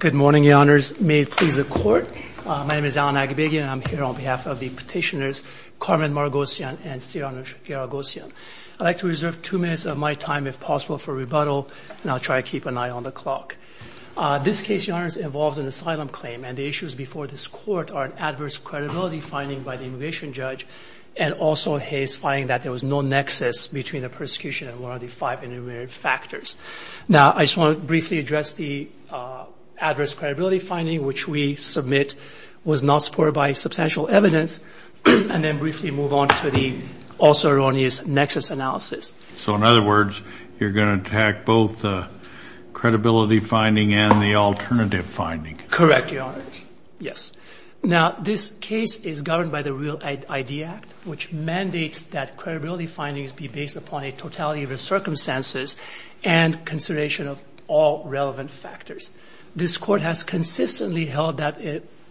Good morning, your honors. May it please the court. My name is Alan Agabagian, and I'm here on behalf of the petitioners Carmen Margosyan and Sire Anoush Garagosyan. I'd like to reserve two minutes of my time, if possible, for rebuttal, and I'll try to keep an eye on the clock. This case, your honors, involves an asylum claim, and the issues before this court are an adverse credibility finding by the immigration judge and also his finding that there was no nexus between the persecution and one of the five intermediary factors. Now, I just want to briefly address the adverse credibility finding, which we submit was not supported by substantial evidence, and then briefly move on to the also erroneous nexus analysis. So, in other words, you're going to attack both the credibility finding and the alternative finding. Correct, your honors. Yes. Now, this case is governed by the Real ID Act, which mandates that credibility findings be based upon a totality of the circumstances and consideration of all relevant factors. This court has consistently held that,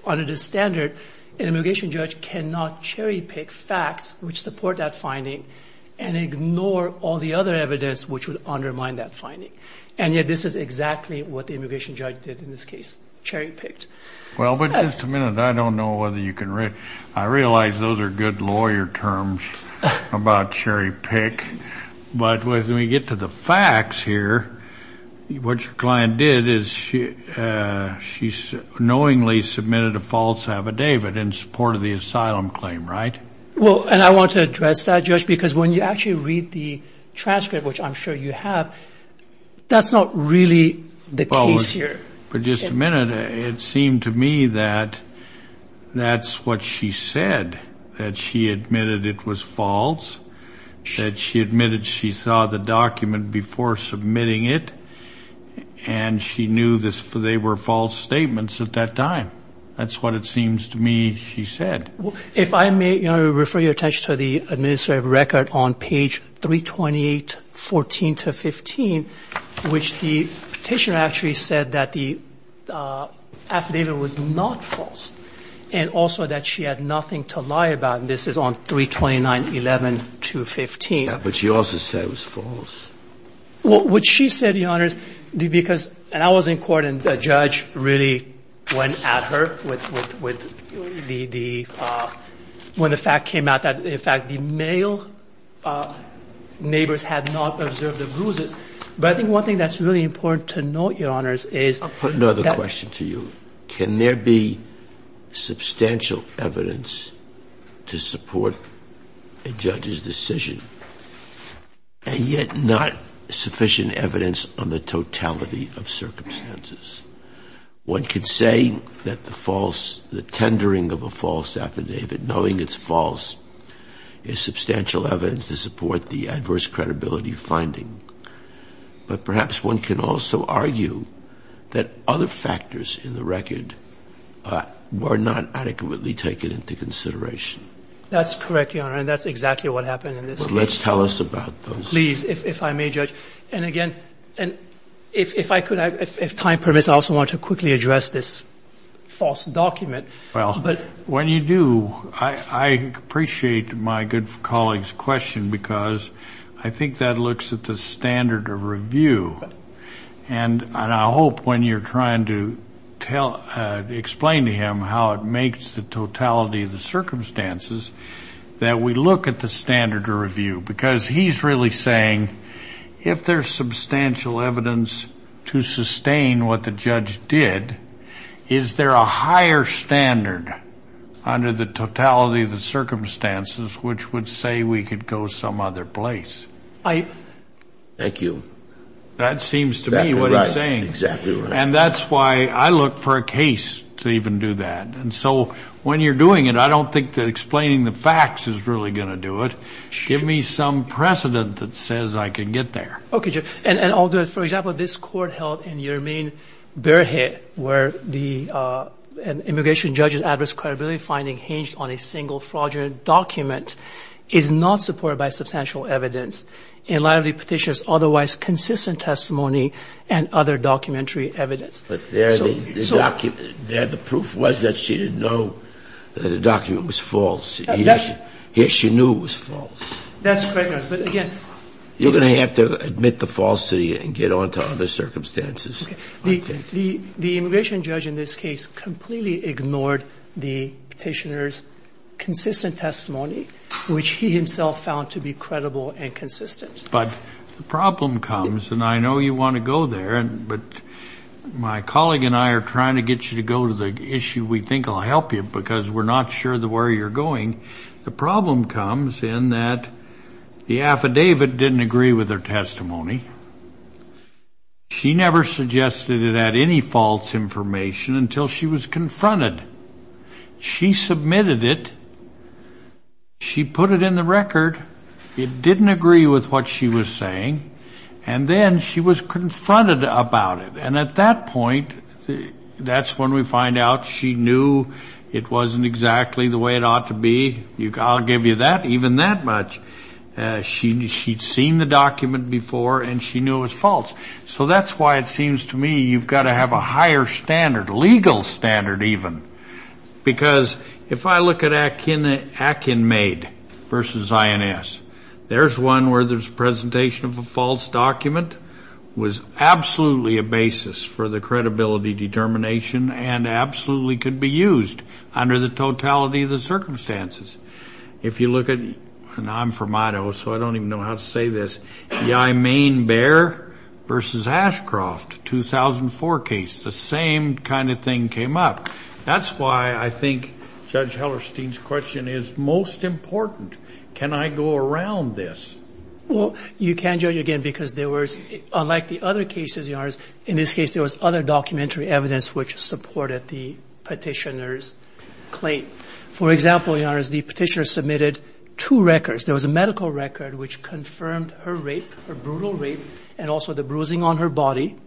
under the standard, an immigration judge cannot cherry pick facts which support that finding and ignore all the other evidence which would undermine that finding. And yet this is exactly what the immigration judge did in this case, cherry picked. Well, but just a minute. I don't know whether you can read. I realize those are good lawyer terms about cherry pick. But when we get to the facts here, what your client did is she knowingly submitted a false affidavit in support of the asylum claim, right? Well, and I want to address that, Judge, because when you actually read the transcript, which I'm sure you have, that's not really the case here. But just a minute. It seemed to me that that's what she said, that she admitted it was false, that she admitted she saw the document before submitting it, and she knew they were false statements at that time. That's what it seems to me she said. If I may refer your attention to the administrative record on page 328, 14 to 15, which the petitioner actually said that the affidavit was not false and also that she had nothing to lie about. And this is on 329, 11 to 15. But she also said it was false. Well, what she said, Your Honors, because I was in court and the judge really went at her when the fact came out that, in fact, the male neighbors had not observed the bruises. But I think one thing that's really important to note, Your Honors, is- I'll put another question to you. Can there be substantial evidence to support a judge's decision, and yet not sufficient evidence on the totality of circumstances? One could say that the false- the tendering of a false affidavit, knowing it's false, is substantial evidence to support the adverse credibility finding. But perhaps one can also argue that other factors in the record were not adequately taken into consideration. That's correct, Your Honor, and that's exactly what happened in this case. Well, let's tell us about those. Please, if I may, Judge. And, again, if I could, if time permits, I also want to quickly address this false document. Well, when you do, I appreciate my good colleague's question, because I think that looks at the standard of review. And I hope when you're trying to explain to him how it makes the totality of the circumstances, that we look at the standard of review, because he's really saying, if there's substantial evidence to sustain what the judge did, is there a higher standard under the totality of the circumstances which would say we could go some other place? Right. Thank you. That seems to me what he's saying. Exactly right. And that's why I look for a case to even do that. And so when you're doing it, I don't think that explaining the facts is really going to do it. Give me some precedent that says I can get there. Okay, Judge. And I'll do it. For example, this Court held in Jermaine-Berhe, where the immigration judge's adverse credibility finding hinged on a single fraudulent document, is not supported by substantial evidence, in light of the Petitioner's otherwise consistent testimony and other documentary evidence. But there the proof was that she didn't know the document was false. Yes, she knew it was false. That's correct, Your Honor. But again you're going to have to admit the falsity and get on to other circumstances. The immigration judge in this case completely ignored the Petitioner's consistent testimony, which he himself found to be credible and consistent. But the problem comes, and I know you want to go there, but my colleague and I are trying to get you to go to the issue we think will help you because we're not sure where you're going. The problem comes in that the affidavit didn't agree with her testimony. She never suggested it had any false information until she was confronted. She submitted it. She put it in the record. It didn't agree with what she was saying. And then she was confronted about it. And at that point, that's when we find out she knew it wasn't exactly the way it ought to be. I'll give you that, even that much. She'd seen the document before and she knew it was false. So that's why it seems to me you've got to have a higher standard, legal standard even, because if I look at Akin Maid versus INS, there's one where there's a basis for the credibility determination and absolutely could be used under the totality of the circumstances. If you look at, and I'm from Idaho, so I don't even know how to say this, Yai Main Bear versus Ashcroft, 2004 case, the same kind of thing came up. That's why I think Judge Hellerstein's question is most important. Can I go around this? Well, you can, Judge, again, because there was, unlike the other cases, Your Honors, in this case there was other documentary evidence which supported the petitioner's claim. For example, Your Honors, the petitioner submitted two records. There was a medical record which confirmed her rape, her brutal rape, and also the bruising on her body.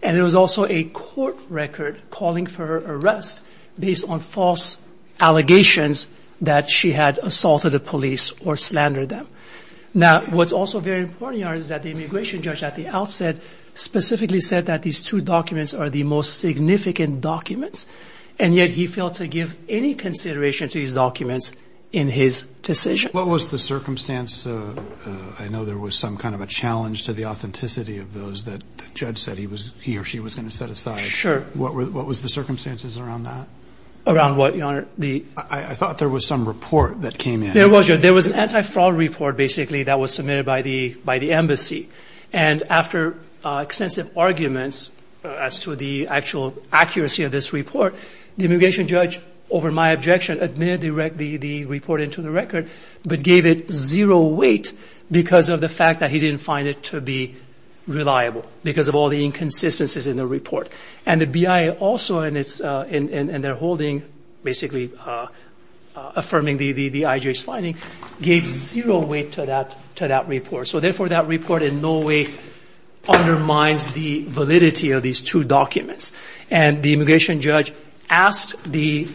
And there was also a court record calling for her arrest based on false allegations that she had assaulted the police or slandered them. Now, what's also very important, Your Honors, is that the immigration judge at the outset specifically said that these two documents are the most significant documents, and yet he failed to give any consideration to these documents in his decision. What was the circumstance? I know there was some kind of a challenge to the authenticity of those that the judge said he or she was going to set aside. Sure. What was the circumstances around that? Around what, Your Honor? I thought there was some report that came in. There was, Your Honor. There was an anti-fraud report, basically, that was submitted by the embassy. And after extensive arguments as to the actual accuracy of this report, the immigration judge, over my objection, admitted the report into the record but gave it zero weight because of the fact that he didn't find it to be reliable because of all the inconsistencies in the report. And the BIA also, in their holding, basically affirming the IJ's finding, gave zero weight to that report. So, therefore, that report in no way undermines the validity of these two documents. And the immigration judge asked the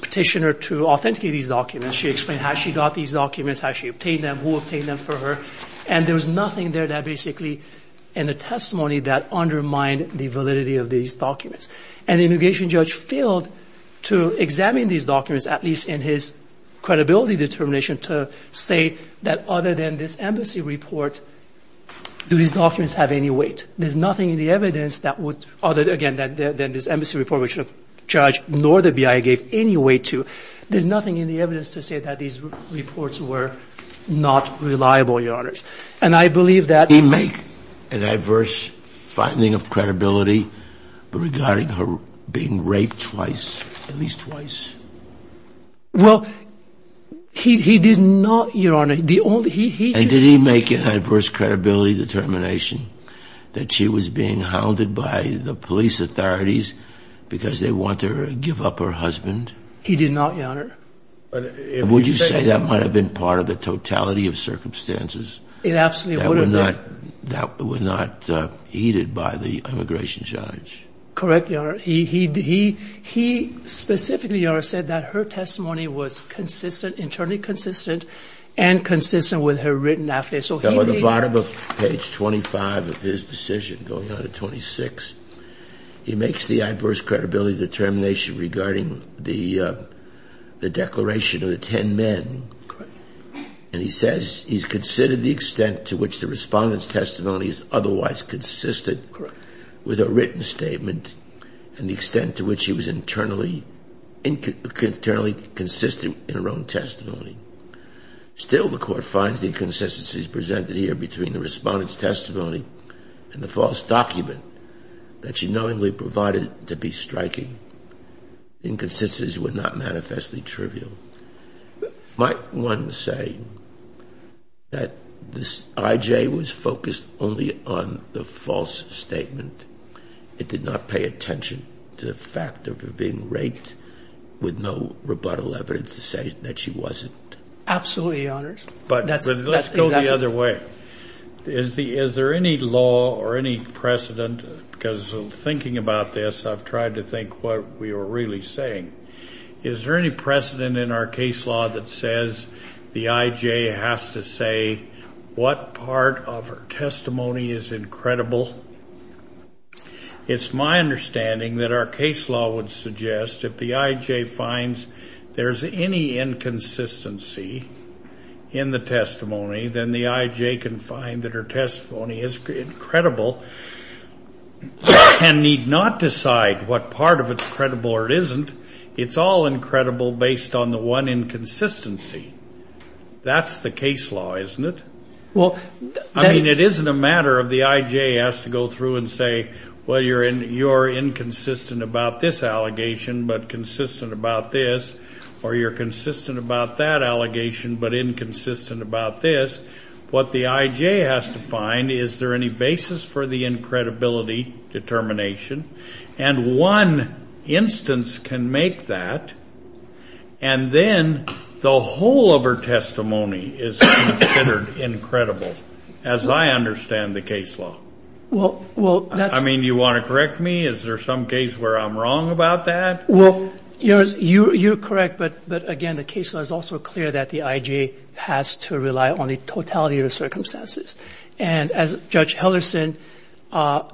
petitioner to authenticate these documents. She explained how she got these documents, how she obtained them, who obtained them for her. And there was nothing there that basically, in the testimony, that undermined the validity of these documents. And the immigration judge failed to examine these documents, at least in his credibility determination, to say that other than this embassy report, do these documents have any weight? There's nothing in the evidence that would, other, again, than this embassy report which the judge nor the BIA gave any weight to. There's nothing in the evidence to say that these reports were not reliable, Your Honors. Did he make an adverse finding of credibility regarding her being raped twice, at least twice? Well, he did not, Your Honor. And did he make an adverse credibility determination that she was being hounded by the police authorities because they want to give up her husband? He did not, Your Honor. Would you say that might have been part of the totality of circumstances? It absolutely would have been. That were not heeded by the immigration judge? Correct, Your Honor. He specifically, Your Honor, said that her testimony was consistent, internally consistent, and consistent with her written affidavit. So he did not. On the bottom of page 25 of his decision, going on to 26, he makes the adverse credibility determination regarding the declaration of the ten men. Correct. And he says he's considered the extent to which the respondent's testimony is otherwise consistent with her written statement and the extent to which she was internally consistent in her own testimony. Still, the court finds the inconsistencies presented here between the respondent's testimony and the false document that she knowingly provided to be striking. Inconsistencies were not manifestly trivial. Might one say that this IJ was focused only on the false statement? It did not pay attention to the fact of her being raped with no rebuttal evidence to say that she wasn't? Absolutely, Your Honors. But let's go the other way. Is there any law or any precedent? Because thinking about this, I've tried to think what we were really saying. Is there any precedent in our case law that says the IJ has to say what part of her testimony is incredible? It's my understanding that our case law would suggest if the IJ finds there's any inconsistency in the testimony, then the IJ can find that her testimony is incredible and need not decide what part of it's credible or it isn't. It's all incredible based on the one inconsistency. That's the case law, isn't it? I mean, it isn't a matter of the IJ has to go through and say, well, you're inconsistent about this allegation but consistent about this, or you're consistent about that allegation but inconsistent about this. What the IJ has to find, is there any basis for the incredibility determination? And one instance can make that. And then the whole of her testimony is considered incredible, as I understand the case law. Well, that's... I mean, do you want to correct me? Is there some case where I'm wrong about that? Well, you're correct. But, again, the case law is also clear that the IJ has to rely on the totality of the circumstances. And as Judge Hellerson stated...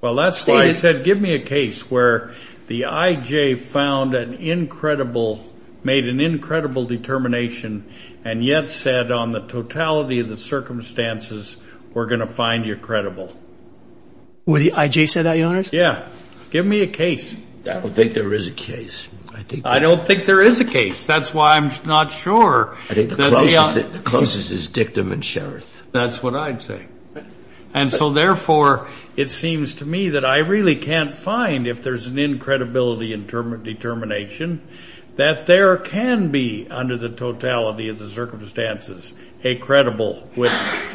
Well, that's why I said give me a case where the IJ found an incredible, made an incredible determination and yet said on the totality of the circumstances, we're going to find you credible. Would the IJ say that, Your Honors? Yeah. Give me a case. I don't think there is a case. I don't think there is a case. That's why I'm not sure. I think the closest is dictum and sheriff. That's what I'd say. And so, therefore, it seems to me that I really can't find, if there's an incredibility determination, that there can be under the totality of the circumstances a credible witness.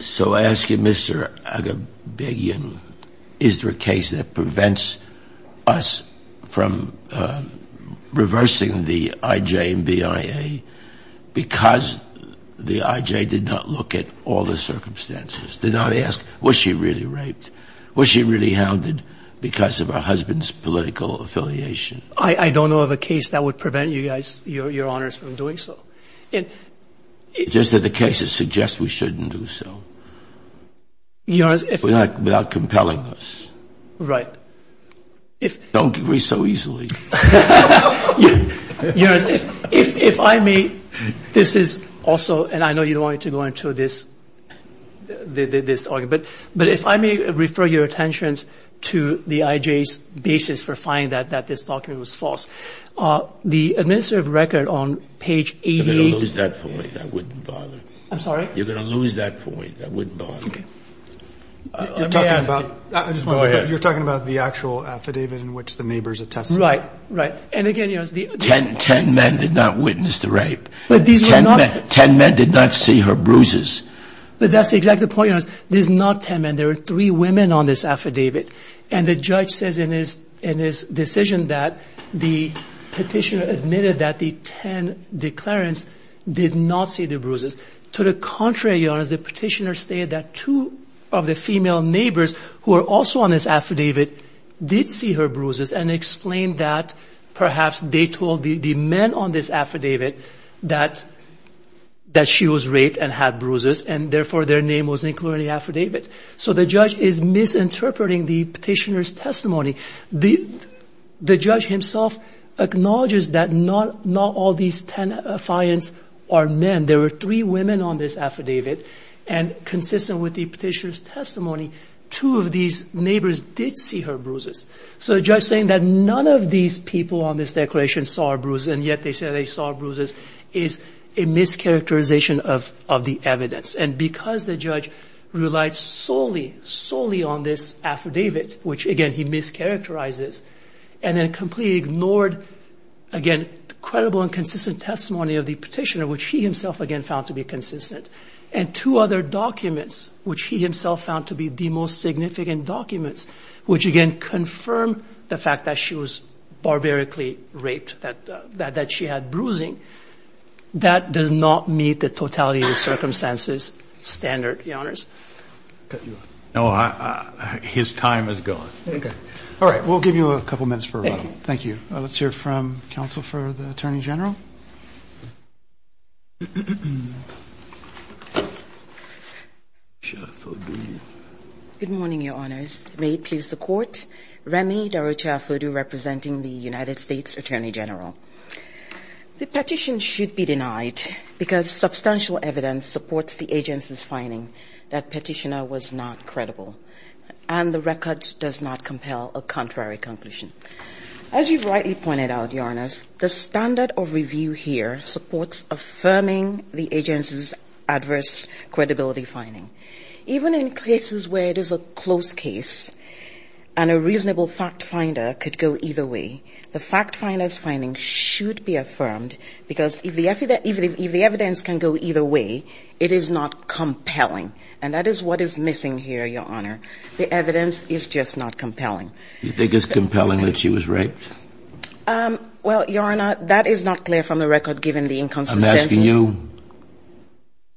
So I ask you, Mr. Aghabagian, is there a case that prevents us from reversing the IJ and BIA because the IJ did not look at all the circumstances, did not ask was she really raped, was she really hounded because of her husband's political affiliation? I don't know of a case that would prevent you guys, Your Honors, from doing so. It's just that the cases suggest we shouldn't do so without compelling us. Right. Don't agree so easily. Your Honors, if I may, this is also, and I know you don't want to go into this argument, but if I may refer your attentions to the IJ's basis for finding that this document was false. The administrative record on page 88. You're going to lose that point. I wouldn't bother. I'm sorry? You're going to lose that point. I wouldn't bother. Okay. You're talking about the actual affidavit in which the neighbors attested. Right, right. And again, you know, it's the... Ten men did not witness the rape. Ten men did not see her bruises. But that's the exact point, Your Honors. There's not ten men. There are three women on this affidavit. And the judge says in his decision that the petitioner admitted that the ten declarants did not see the bruises. To the contrary, Your Honors, the petitioner stated that two of the female neighbors who are also on this affidavit did see her bruises and explained that perhaps they told the men on this affidavit that she was raped and had bruises and therefore their name was included in the affidavit. So the judge is misinterpreting the petitioner's testimony. The judge himself acknowledges that not all these ten clients are men. There were three women on this affidavit. And consistent with the petitioner's testimony, two of these neighbors did see her bruises. So the judge is saying that none of these people on this declaration saw a bruise, and yet they say they saw bruises, is a mischaracterization of the evidence. And because the judge relied solely, solely on this affidavit, which, again, he mischaracterizes, and then completely ignored, again, credible and consistent testimony of the petitioner, which he himself, again, found to be consistent, and two other documents, which he himself found to be the most significant documents, which, again, confirm the fact that she was barbarically raped, that she had bruising, that does not meet the totality of circumstances standard, Your Honors. No, his time is gone. Okay. All right. We'll give you a couple minutes for a round. Thank you. Let's hear from counsel for the Attorney General. Good morning, Your Honors. May it please the Court. Remy Darucha-Fodoo representing the United States Attorney General. The petition should be denied because substantial evidence supports the agency's finding that petitioner was not credible, and the record does not compel a contrary conclusion. As you've rightly pointed out, Your Honors, the standard of review here supports affirming the agency's adverse credibility finding. Even in cases where it is a close case and a reasonable fact finder could go either way, the fact finder's finding should be affirmed because if the evidence can go either way, it is not compelling. And that is what is missing here, Your Honor. The evidence is just not compelling. You think it's compelling that she was raped? Well, Your Honor, that is not clear from the record, given the inconsistencies. I'm asking you,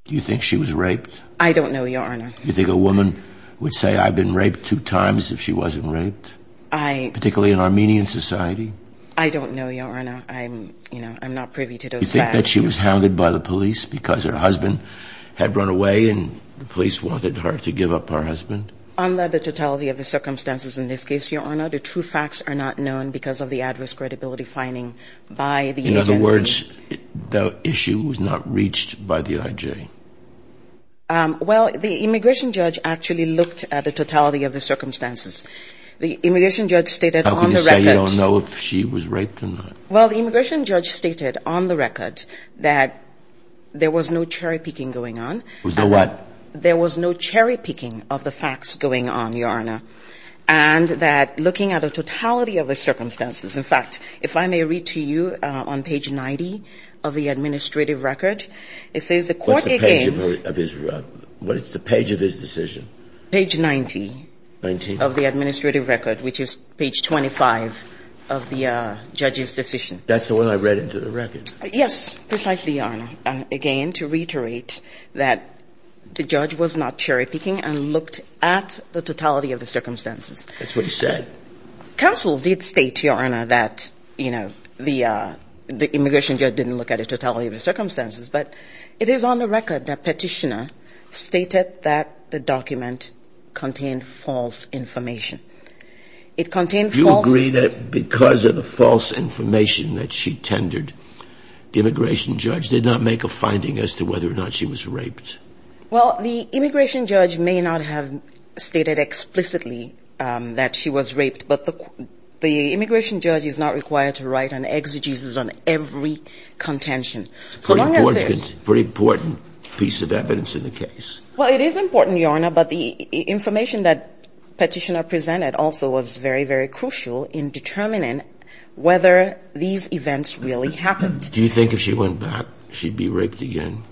do you think she was raped? I don't know, Your Honor. Do you think a woman would say, I've been raped two times if she wasn't raped? Particularly in Armenian society? I don't know, Your Honor. I'm not privy to those facts. You think that she was hounded by the police because her husband had run away and the police wanted her to give up her husband? Under the totality of the circumstances in this case, Your Honor, the true facts are not known because of the adverse credibility finding by the agency. In other words, the issue was not reached by the I.J.? Well, the immigration judge actually looked at the totality of the circumstances. The immigration judge stated on the record. How can you say you don't know if she was raped or not? Well, the immigration judge stated on the record that there was no cherry-picking going on. There was no what? There was no cherry-picking of the facts going on, Your Honor, and that looking at the totality of the circumstances. In fact, if I may read to you on page 90 of the administrative record, it says, What's the page of his decision? Page 90. 19. Of the administrative record, which is page 25 of the judge's decision. That's the one I read into the record. Yes, precisely, Your Honor. Again, to reiterate that the judge was not cherry-picking and looked at the totality of the circumstances. That's what he said. Counsel did state, Your Honor, that, you know, the immigration judge didn't look at the totality of the circumstances, but it is on the record that Petitioner stated that the document contained false information. Do you agree that because of the false information that she tendered, the immigration judge did not make a finding as to whether or not she was raped? Well, the immigration judge may not have stated explicitly that she was raped, but the immigration judge is not required to write an exegesis on every contention. It's a pretty important piece of evidence in the case. Well, it is important, Your Honor, but the information that Petitioner presented also was very, very crucial in determining whether these events really happened. Do you think if she went back, she'd be raped again?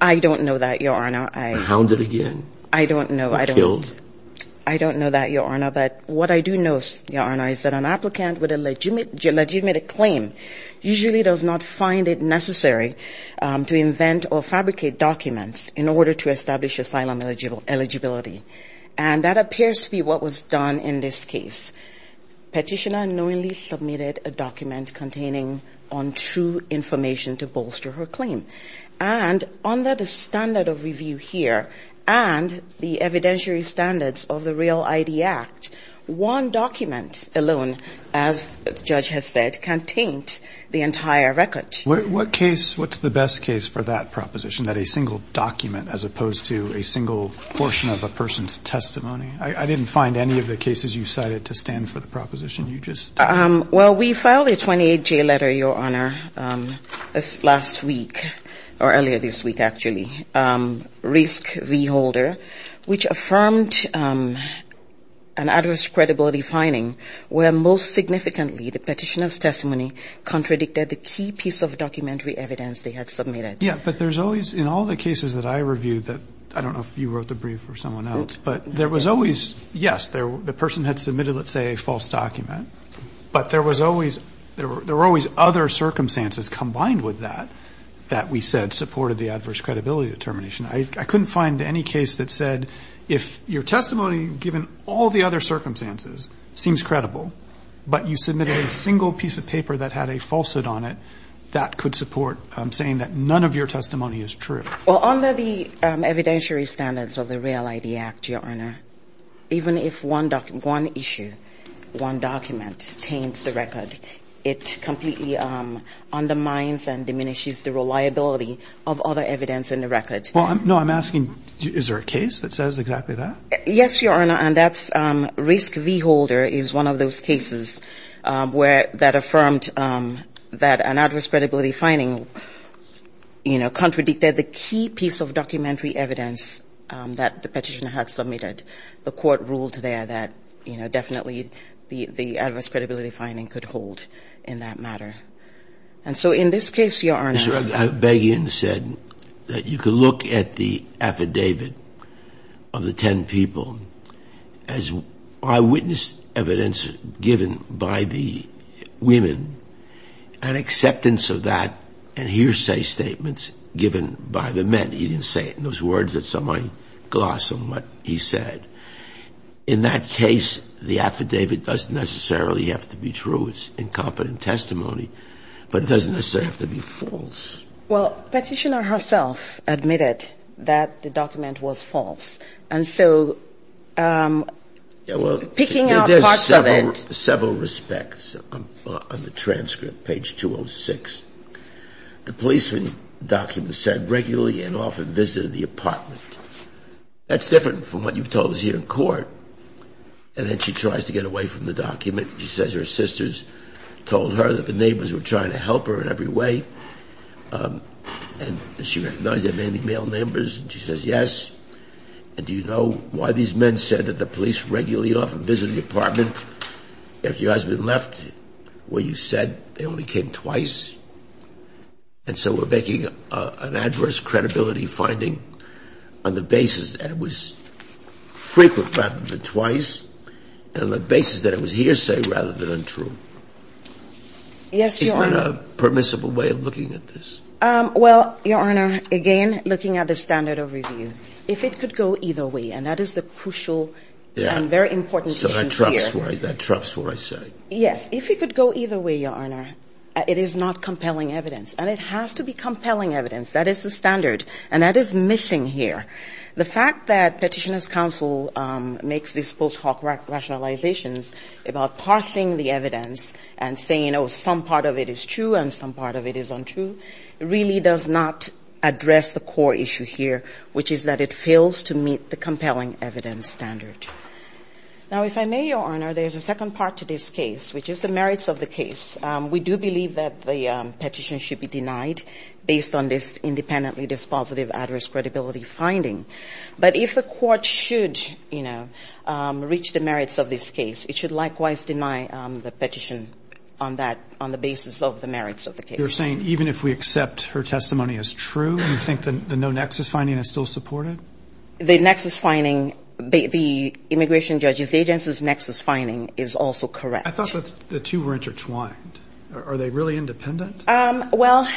I don't know that, Your Honor. Hounded again? I don't know. Killed? I don't know that, Your Honor, but what I do know, Your Honor, is that an applicant with a legitimate claim usually does not find it necessary to invent or fabricate documents in order to establish asylum eligibility. And that appears to be what was done in this case. Petitioner knowingly submitted a document containing untrue information to bolster her claim. And under the standard of review here and the evidentiary standards of the REAL-ID Act, one document alone, as the judge has said, contains the entire record. What case, what's the best case for that proposition, that a single document as opposed to a single portion of a person's testimony? I didn't find any of the cases you cited to stand for the proposition. You just did. Well, we filed a 28-J letter, Your Honor, last week or earlier this week, actually, to the Petitioner's Testimony Risk V-Holder, which affirmed an adverse credibility finding where most significantly the Petitioner's Testimony contradicted the key piece of documentary evidence they had submitted. Yeah, but there's always, in all the cases that I reviewed that, I don't know if you wrote the brief or someone else, but there was always, yes, the person had submitted, let's say, a false document, but there was always, there were always other circumstances combined with that that we said supported the adverse credibility determination. I couldn't find any case that said if your testimony, given all the other circumstances, seems credible, but you submitted a single piece of paper that had a falsehood on it, that could support saying that none of your testimony is true. Well, under the evidentiary standards of the REAL-ID Act, Your Honor, even if one issue, one document, taints the record, it completely undermines and diminishes the reliability of other evidence in the record. Well, no, I'm asking, is there a case that says exactly that? Yes, Your Honor, and that's Risk V-Holder is one of those cases where that affirmed that an adverse credibility finding, you know, contradicted the key piece of documentary evidence that the Petitioner had submitted. The Court ruled there that, you know, definitely the adverse credibility finding could hold in that matter. And so in this case, Your Honor ---- Mr. Begian said that you could look at the affidavit of the ten people as eyewitness evidence given by the women and acceptance of that and hearsay statements given by the men. He didn't say it in those words that some might gloss on what he said. In that case, the affidavit doesn't necessarily have to be true. It's incompetent testimony, but it doesn't necessarily have to be false. Well, Petitioner herself admitted that the document was false. And so picking up parts of it ---- The policeman's document said regularly and often visited the apartment. That's different from what you've told us here in court. And then she tries to get away from the document. She says her sisters told her that the neighbors were trying to help her in every way. And she recognized that mainly male neighbors, and she says yes. And do you know why these men said that the police regularly and often visited the apartment? If your husband left, what you said, they only came twice. And so we're making an adverse credibility finding on the basis that it was frequent rather than twice, and on the basis that it was hearsay rather than untrue. Yes, Your Honor. So is that a permissible way of looking at this? Well, Your Honor, again, looking at the standard of review, if it could go either way, and that is the crucial and very important issue here. So that trumps what I say. Yes. If it could go either way, Your Honor, it is not compelling evidence. And it has to be compelling evidence. That is the standard, and that is missing here. The fact that Petitioner's Counsel makes these post hoc rationalizations about parsing the evidence and saying, oh, some part of it is true and some part of it is untrue, really does not address the core issue here, which is that it fails to meet the compelling evidence standard. Now, if I may, Your Honor, there's a second part to this case, which is the merits of the case. We do believe that the petition should be denied based on this independently dispositive adverse credibility finding. But if the Court should, you know, reach the merits of this case, it should likewise deny the petition on that, on the basis of the merits of the case. You're saying even if we accept her testimony as true, you think the no nexus finding is still supportive? The nexus finding, the immigration judge's agency's nexus finding is also correct. I thought the two were intertwined. Are they really independent? Well,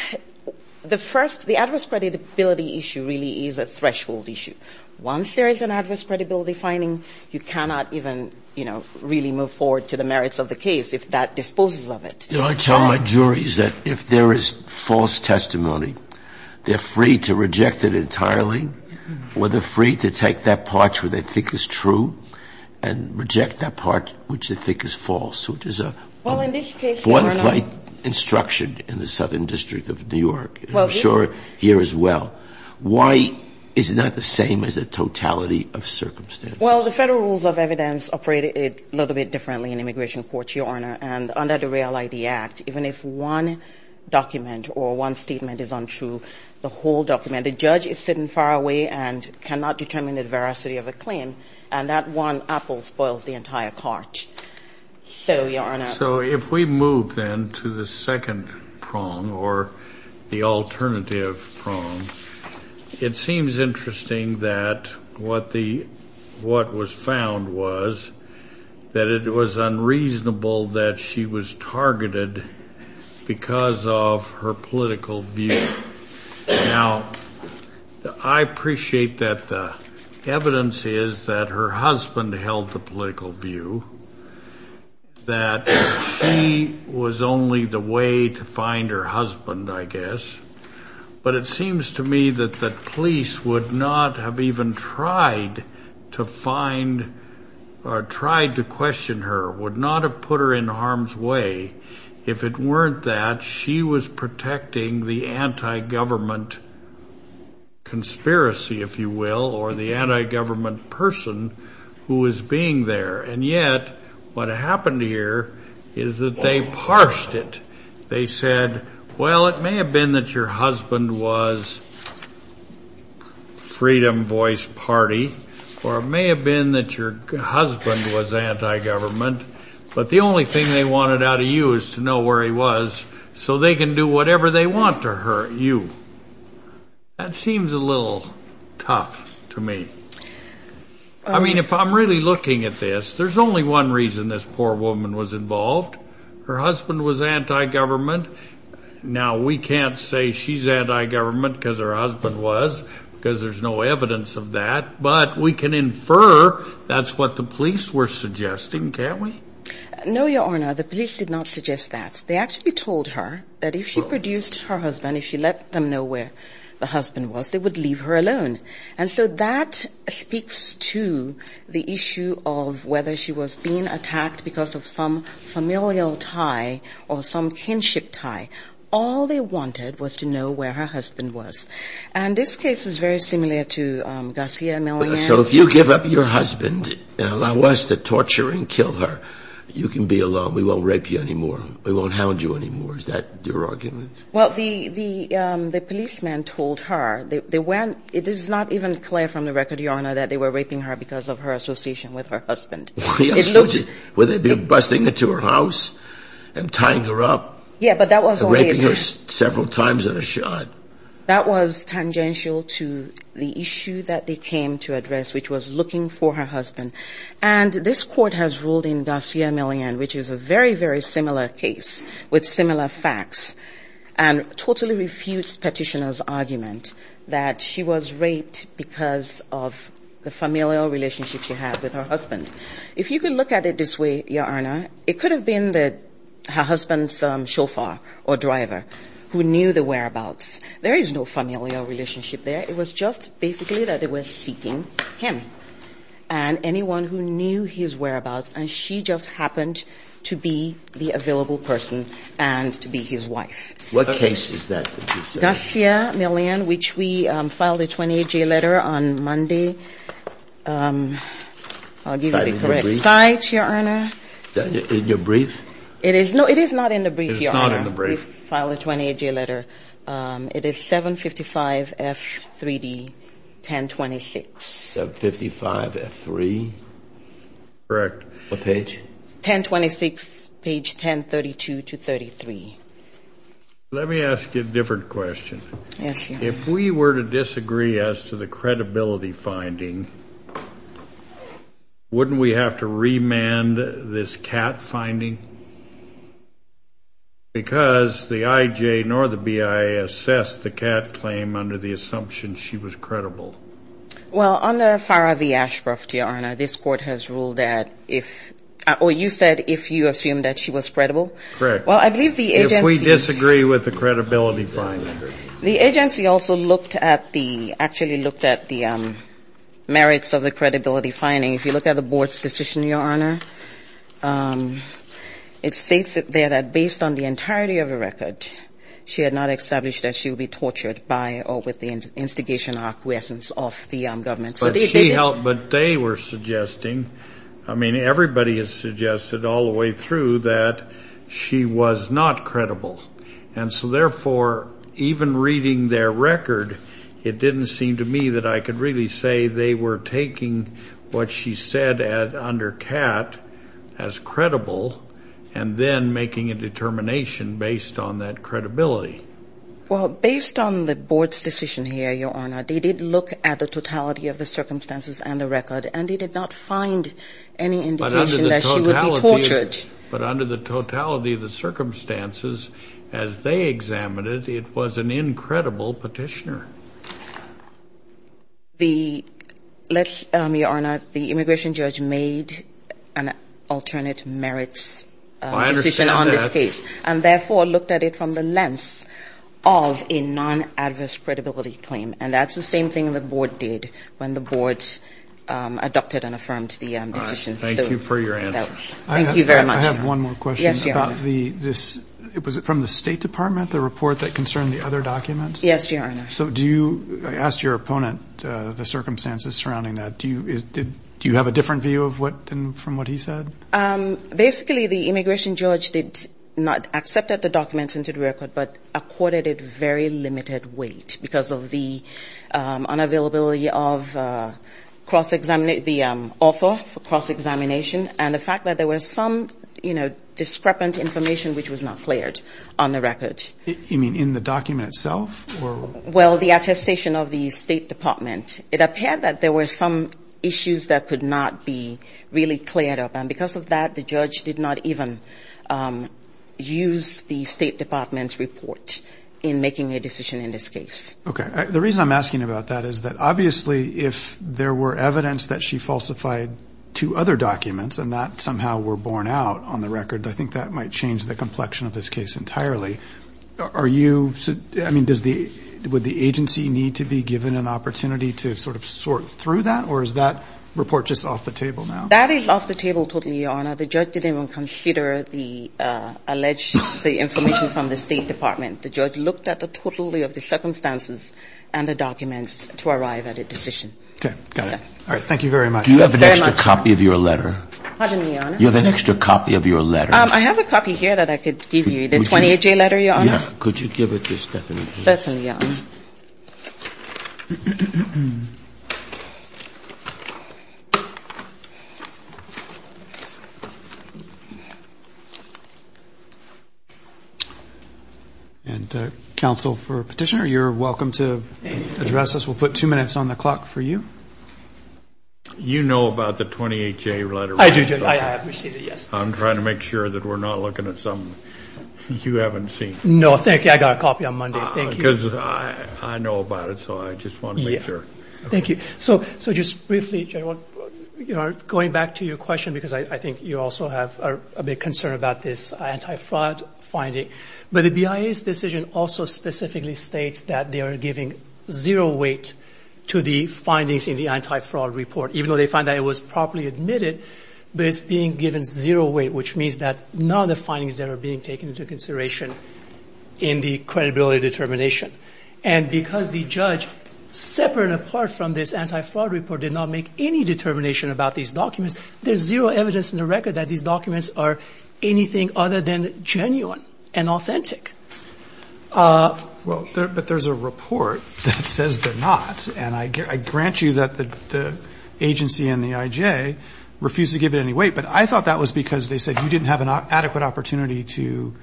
the first, the adverse credibility issue really is a threshold issue. Once there is an adverse credibility finding, you cannot even, you know, really move forward to the merits of the case if that disposes of it. You know, I tell my juries that if there is false testimony, they're free to reject it entirely, or they're free to take that part which they think is true and reject that part which they think is false, which is a one-plate instruction in the Southern District of New York, and I'm sure here as well. Why is it not the same as the totality of circumstances? Well, the Federal Rules of Evidence operate a little bit differently in immigration courts, Your Honor, and under the Real ID Act, even if one document or one statement is untrue, the whole document, the judge is sitting far away and cannot determine the veracity of a claim, and that one apple spoils the entire cart. So, Your Honor. So if we move, then, to the second prong or the alternative prong, it seems interesting that what was found was that it was unreasonable that she was targeted because of her political view. Now, I appreciate that the evidence is that her husband held the political view, that she was only the way to find her husband, I guess, but it seems to me that the police would not have even tried to find or tried to question her, would not have put her in harm's way if it weren't that she was protecting the anti-government conspiracy, if you will, or the anti-government person who was being there, and yet what happened here is that they parsed it. They said, well, it may have been that your husband was Freedom Voice Party, or it may have been that your husband was anti-government, but the only thing they wanted out of you is to know where he was so they can do whatever they want to hurt you. That seems a little tough to me. I mean, if I'm really looking at this, there's only one reason this poor woman was involved. Her husband was anti-government. Now, we can't say she's anti-government because her husband was, because there's no evidence of that, but we can infer that's what the police were suggesting, can't we? No, Your Honour, the police did not suggest that. They actually told her that if she produced her that speaks to the issue of whether she was being attacked because of some familial tie or some kinship tie. All they wanted was to know where her husband was, and this case is very similar to Garcia-Millan. So if you give up your husband and allow us to torture and kill her, you can be alone. We won't rape you anymore. We won't hound you anymore. Is that your argument? Well, the policeman told her. It is not even clear from the record, Your Honour, that they were raping her because of her association with her husband. Were they busting into her house and tying her up? Raping her several times in a shot. That was tangential to the issue that they came to address, which was looking for her husband. And this Court has ruled in Garcia-Millan, which is a very, very similar case with similar facts, and totally refutes Petitioner's argument that she was raped because of the familial relationship she had with her husband. If you could look at it this way, Your Honour, it could have been her husband's chauffeur or driver who knew the whereabouts. There is no familial relationship there. It was just basically that they were seeking him and anyone who knew his whereabouts, and she just happened to be the available person and to be his wife. What case is that? Garcia-Millan, which we filed a 28-J letter on Monday. I'll give you the correct site, Your Honour. In your brief? It is not in the brief, Your Honour. We filed a 28-J letter. It is 755 F3D, 1026. 755 F3? Correct. What page? 1026, page 1032-33. Let me ask you a different question. Yes, Your Honour. If we were to disagree as to the credibility finding, wouldn't we have to assume that she was credible? Well, under FARA v. Ashcroft, Your Honour, this Court has ruled that if or you said if you assumed that she was credible? Correct. Well, I believe the agency The agency also looked at the merits of the credibility finding. If you look at the Board's decision, Your Honour, it states there that based on the entirety of the record, she had not established that she would be tortured by or with the instigation or acquiescence of the government. But they were suggesting, I mean, everybody has suggested all the way through that she was not credible. And so therefore, even reading their record, it didn't seem to me that I could really say they were taking what she said under CAT as credible and then making a determination based on that credibility. Well, based on the Board's decision here, Your Honour, they did look at the totality of the circumstances and the record, and they did not find any indication that she would be tortured. But under the totality of the circumstances, as they examined it, it was an incredible petitioner. Your Honour, the immigration judge made an alternate merits decision on this case and therefore looked at it from the lens of a non-adverse credibility claim. And that's the same thing the Board did when the Board adopted and affirmed the decision. Thank you for your answer. I have one more question. Yes, Your Honour. Was it from the State Department, the report that concerned the other documents? Yes, Your Honour. So do you ask your opponent the circumstances surrounding that? Do you have a different view from what he said? Basically, the immigration judge did not accept the documents into the record, but accorded it very limited weight because of the unavailability of the author for cross-examination and the fact that there was some, you know, discrepant information which was not cleared on the record. You mean in the document itself? Well, the attestation of the State Department, it appeared that there were some issues that could not be really cleared up. And because of that, the judge did not even use the State Department's report in making a decision in this case. Okay. The reason I'm asking about that is that obviously if there were evidence that she falsified two other documents and that somehow were borne out on the record, I think that might change the case. So would the agency need to be given an opportunity to sort of sort through that? Or is that report just off the table now? That is off the table totally, Your Honour. The judge didn't even consider the alleged information from the State Department. The judge looked at the totality of the circumstances and the documents to arrive at a decision. Okay. Got it. All right. Thank you very much. Do you have an extra copy of your letter? I have a copy here that I could give you, the 28-J letter, Your Honour. Could you give it to Stephanie? And counsel for Petitioner, you're welcome to address us. We'll put two minutes on the clock for you. You know about the 28-J letter, right? I do. I have received it, yes. I'm trying to make sure that we're not looking at something you haven't seen. No, thank you. I got a copy on Monday. I know about it, so I just want to make sure. Thank you. So just briefly, Your Honour, going back to your question, because I think you also have a big concern about this anti-fraud finding. But the BIA's decision also specifically states that they are giving zero weight to the findings in the anti-fraud report, even though they find that it was properly admitted. But it's being given zero weight, which means that none of the findings that are being taken into consideration in the credibility determination. And because the judge, separate and apart from this anti-fraud report, did not make any determination about these documents, there's zero evidence in the record that these documents are anything other than genuine and authentic. Well, but there's a report that says they're not. And I grant you that the agency and the I.J. refuse to give it any weight. But I thought that was because they said you didn't have an adequate opportunity to...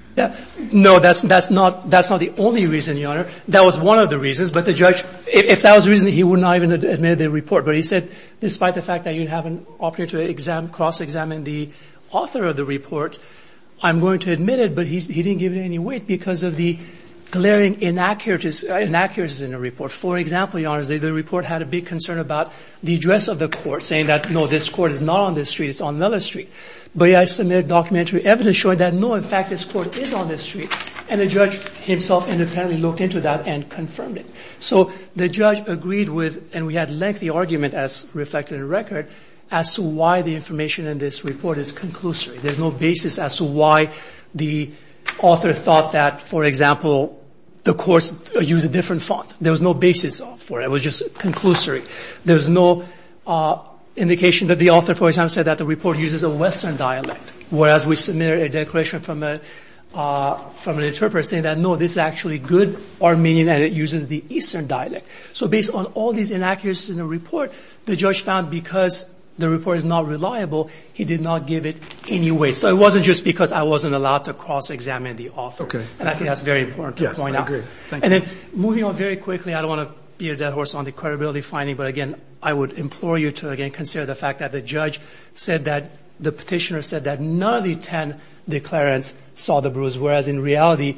No, that's not the only reason, Your Honour. That was one of the reasons. But the judge, if that was the reason, he would not have even admitted the report. But he said, despite the fact that you have an opportunity to cross-examine the author of the report, I'm going to admit it. But he didn't give it any weight because of the glaring inaccuracies in the report. For example, Your Honour, the report had a big concern about the address of the court, saying that, no, this court is not on this street, it's on another street. But I submitted documentary evidence showing that, no, in fact, this court is on this street. And the judge himself independently looked into that and confirmed it. So the judge agreed with, and we had lengthy argument, as reflected in the record, as to why the information in this report is conclusory. There's no basis as to why the author thought that, for example, the courts use a different font. There was no basis for it. It was just conclusory. There was no indication that the author, for example, said that the report uses a Western dialect. Whereas we submitted a declaration from an interpreter saying that, no, this is actually good Armenian and it uses the Eastern dialect. So based on all these inaccuracies in the report, the judge found because the report is not reliable, he did not give it any weight. So it wasn't just because I wasn't allowed to cross-examine the author. And I think that's very important to point out. And then moving on very quickly, I don't want to be a dead horse on the credibility finding, but, again, I would implore you to, again, consider the fact that the judge said that, the petitioner said that none of the 10 declarants saw the bruise. Whereas, in reality,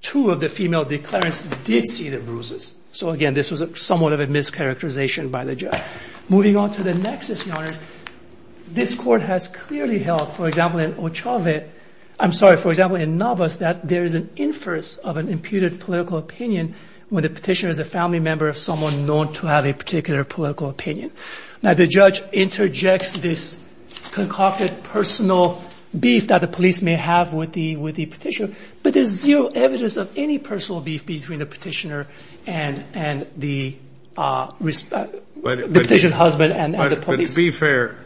two of the female declarants did see the bruises. So, again, this was somewhat of a mischaracterization by the judge. Moving on to the nexus, Your Honor, this Court has clearly held, for example, in Ochave, I'm sorry, for example, in Novos, that there is an inference of an imputed political opinion when the petitioner is a family member of someone known to have a particular political opinion. Now, the judge interjects this concocted personal beef that the police may have with the petitioner, but there's zero evidence of any personal beef between the petitioner and the petitioner's husband and the police. But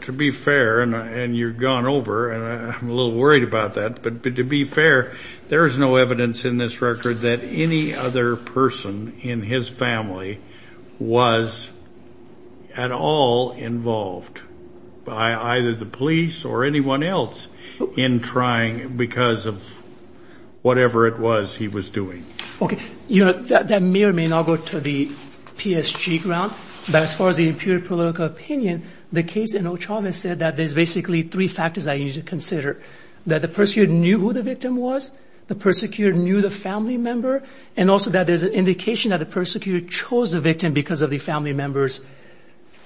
to be fair, and you've gone over, and I'm a little worried about that, but to be fair, there is no evidence in this record that any other person in his family was at all involved by either the police or anyone else in trying, because of whatever it was he was doing. Okay. Your Honor, that may or may not go to the PSG ground, but as far as the imputed political opinion, the case in Ochave said that there's basically three factors I need to consider, that the persecutor knew who the victim was, the persecutor knew the family member, and also that there's an indication that the persecutor chose the victim because of the family member's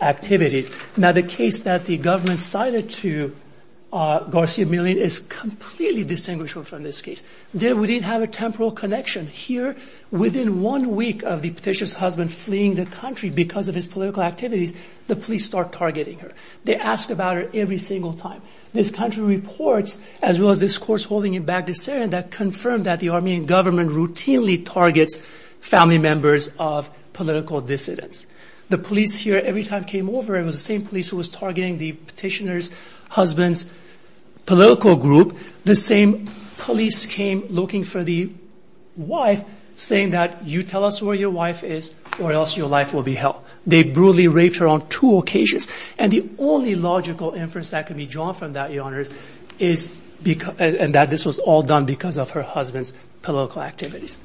activities. Now, the case that the government cited to Garcia-Millan is completely distinguishable from this case. We didn't have a temporal connection. Here, within one week of the petitioner's husband fleeing the country because of his political activities, the police start targeting her. They ask about her every single time. This country reports, as well as this course holding in Baghdad, that confirmed that the Armenian government routinely targets family members of political dissidents. The police here, every time it came over, it was the same police who was targeting the petitioner's husband's political group. The same police came looking for the wife, saying that, you tell us where your wife is, or else your life will be hell. They brutally raped her on two occasions. And the only logical inference that can be drawn from that, Your Honors, is that this was all done because of her husband's political activities.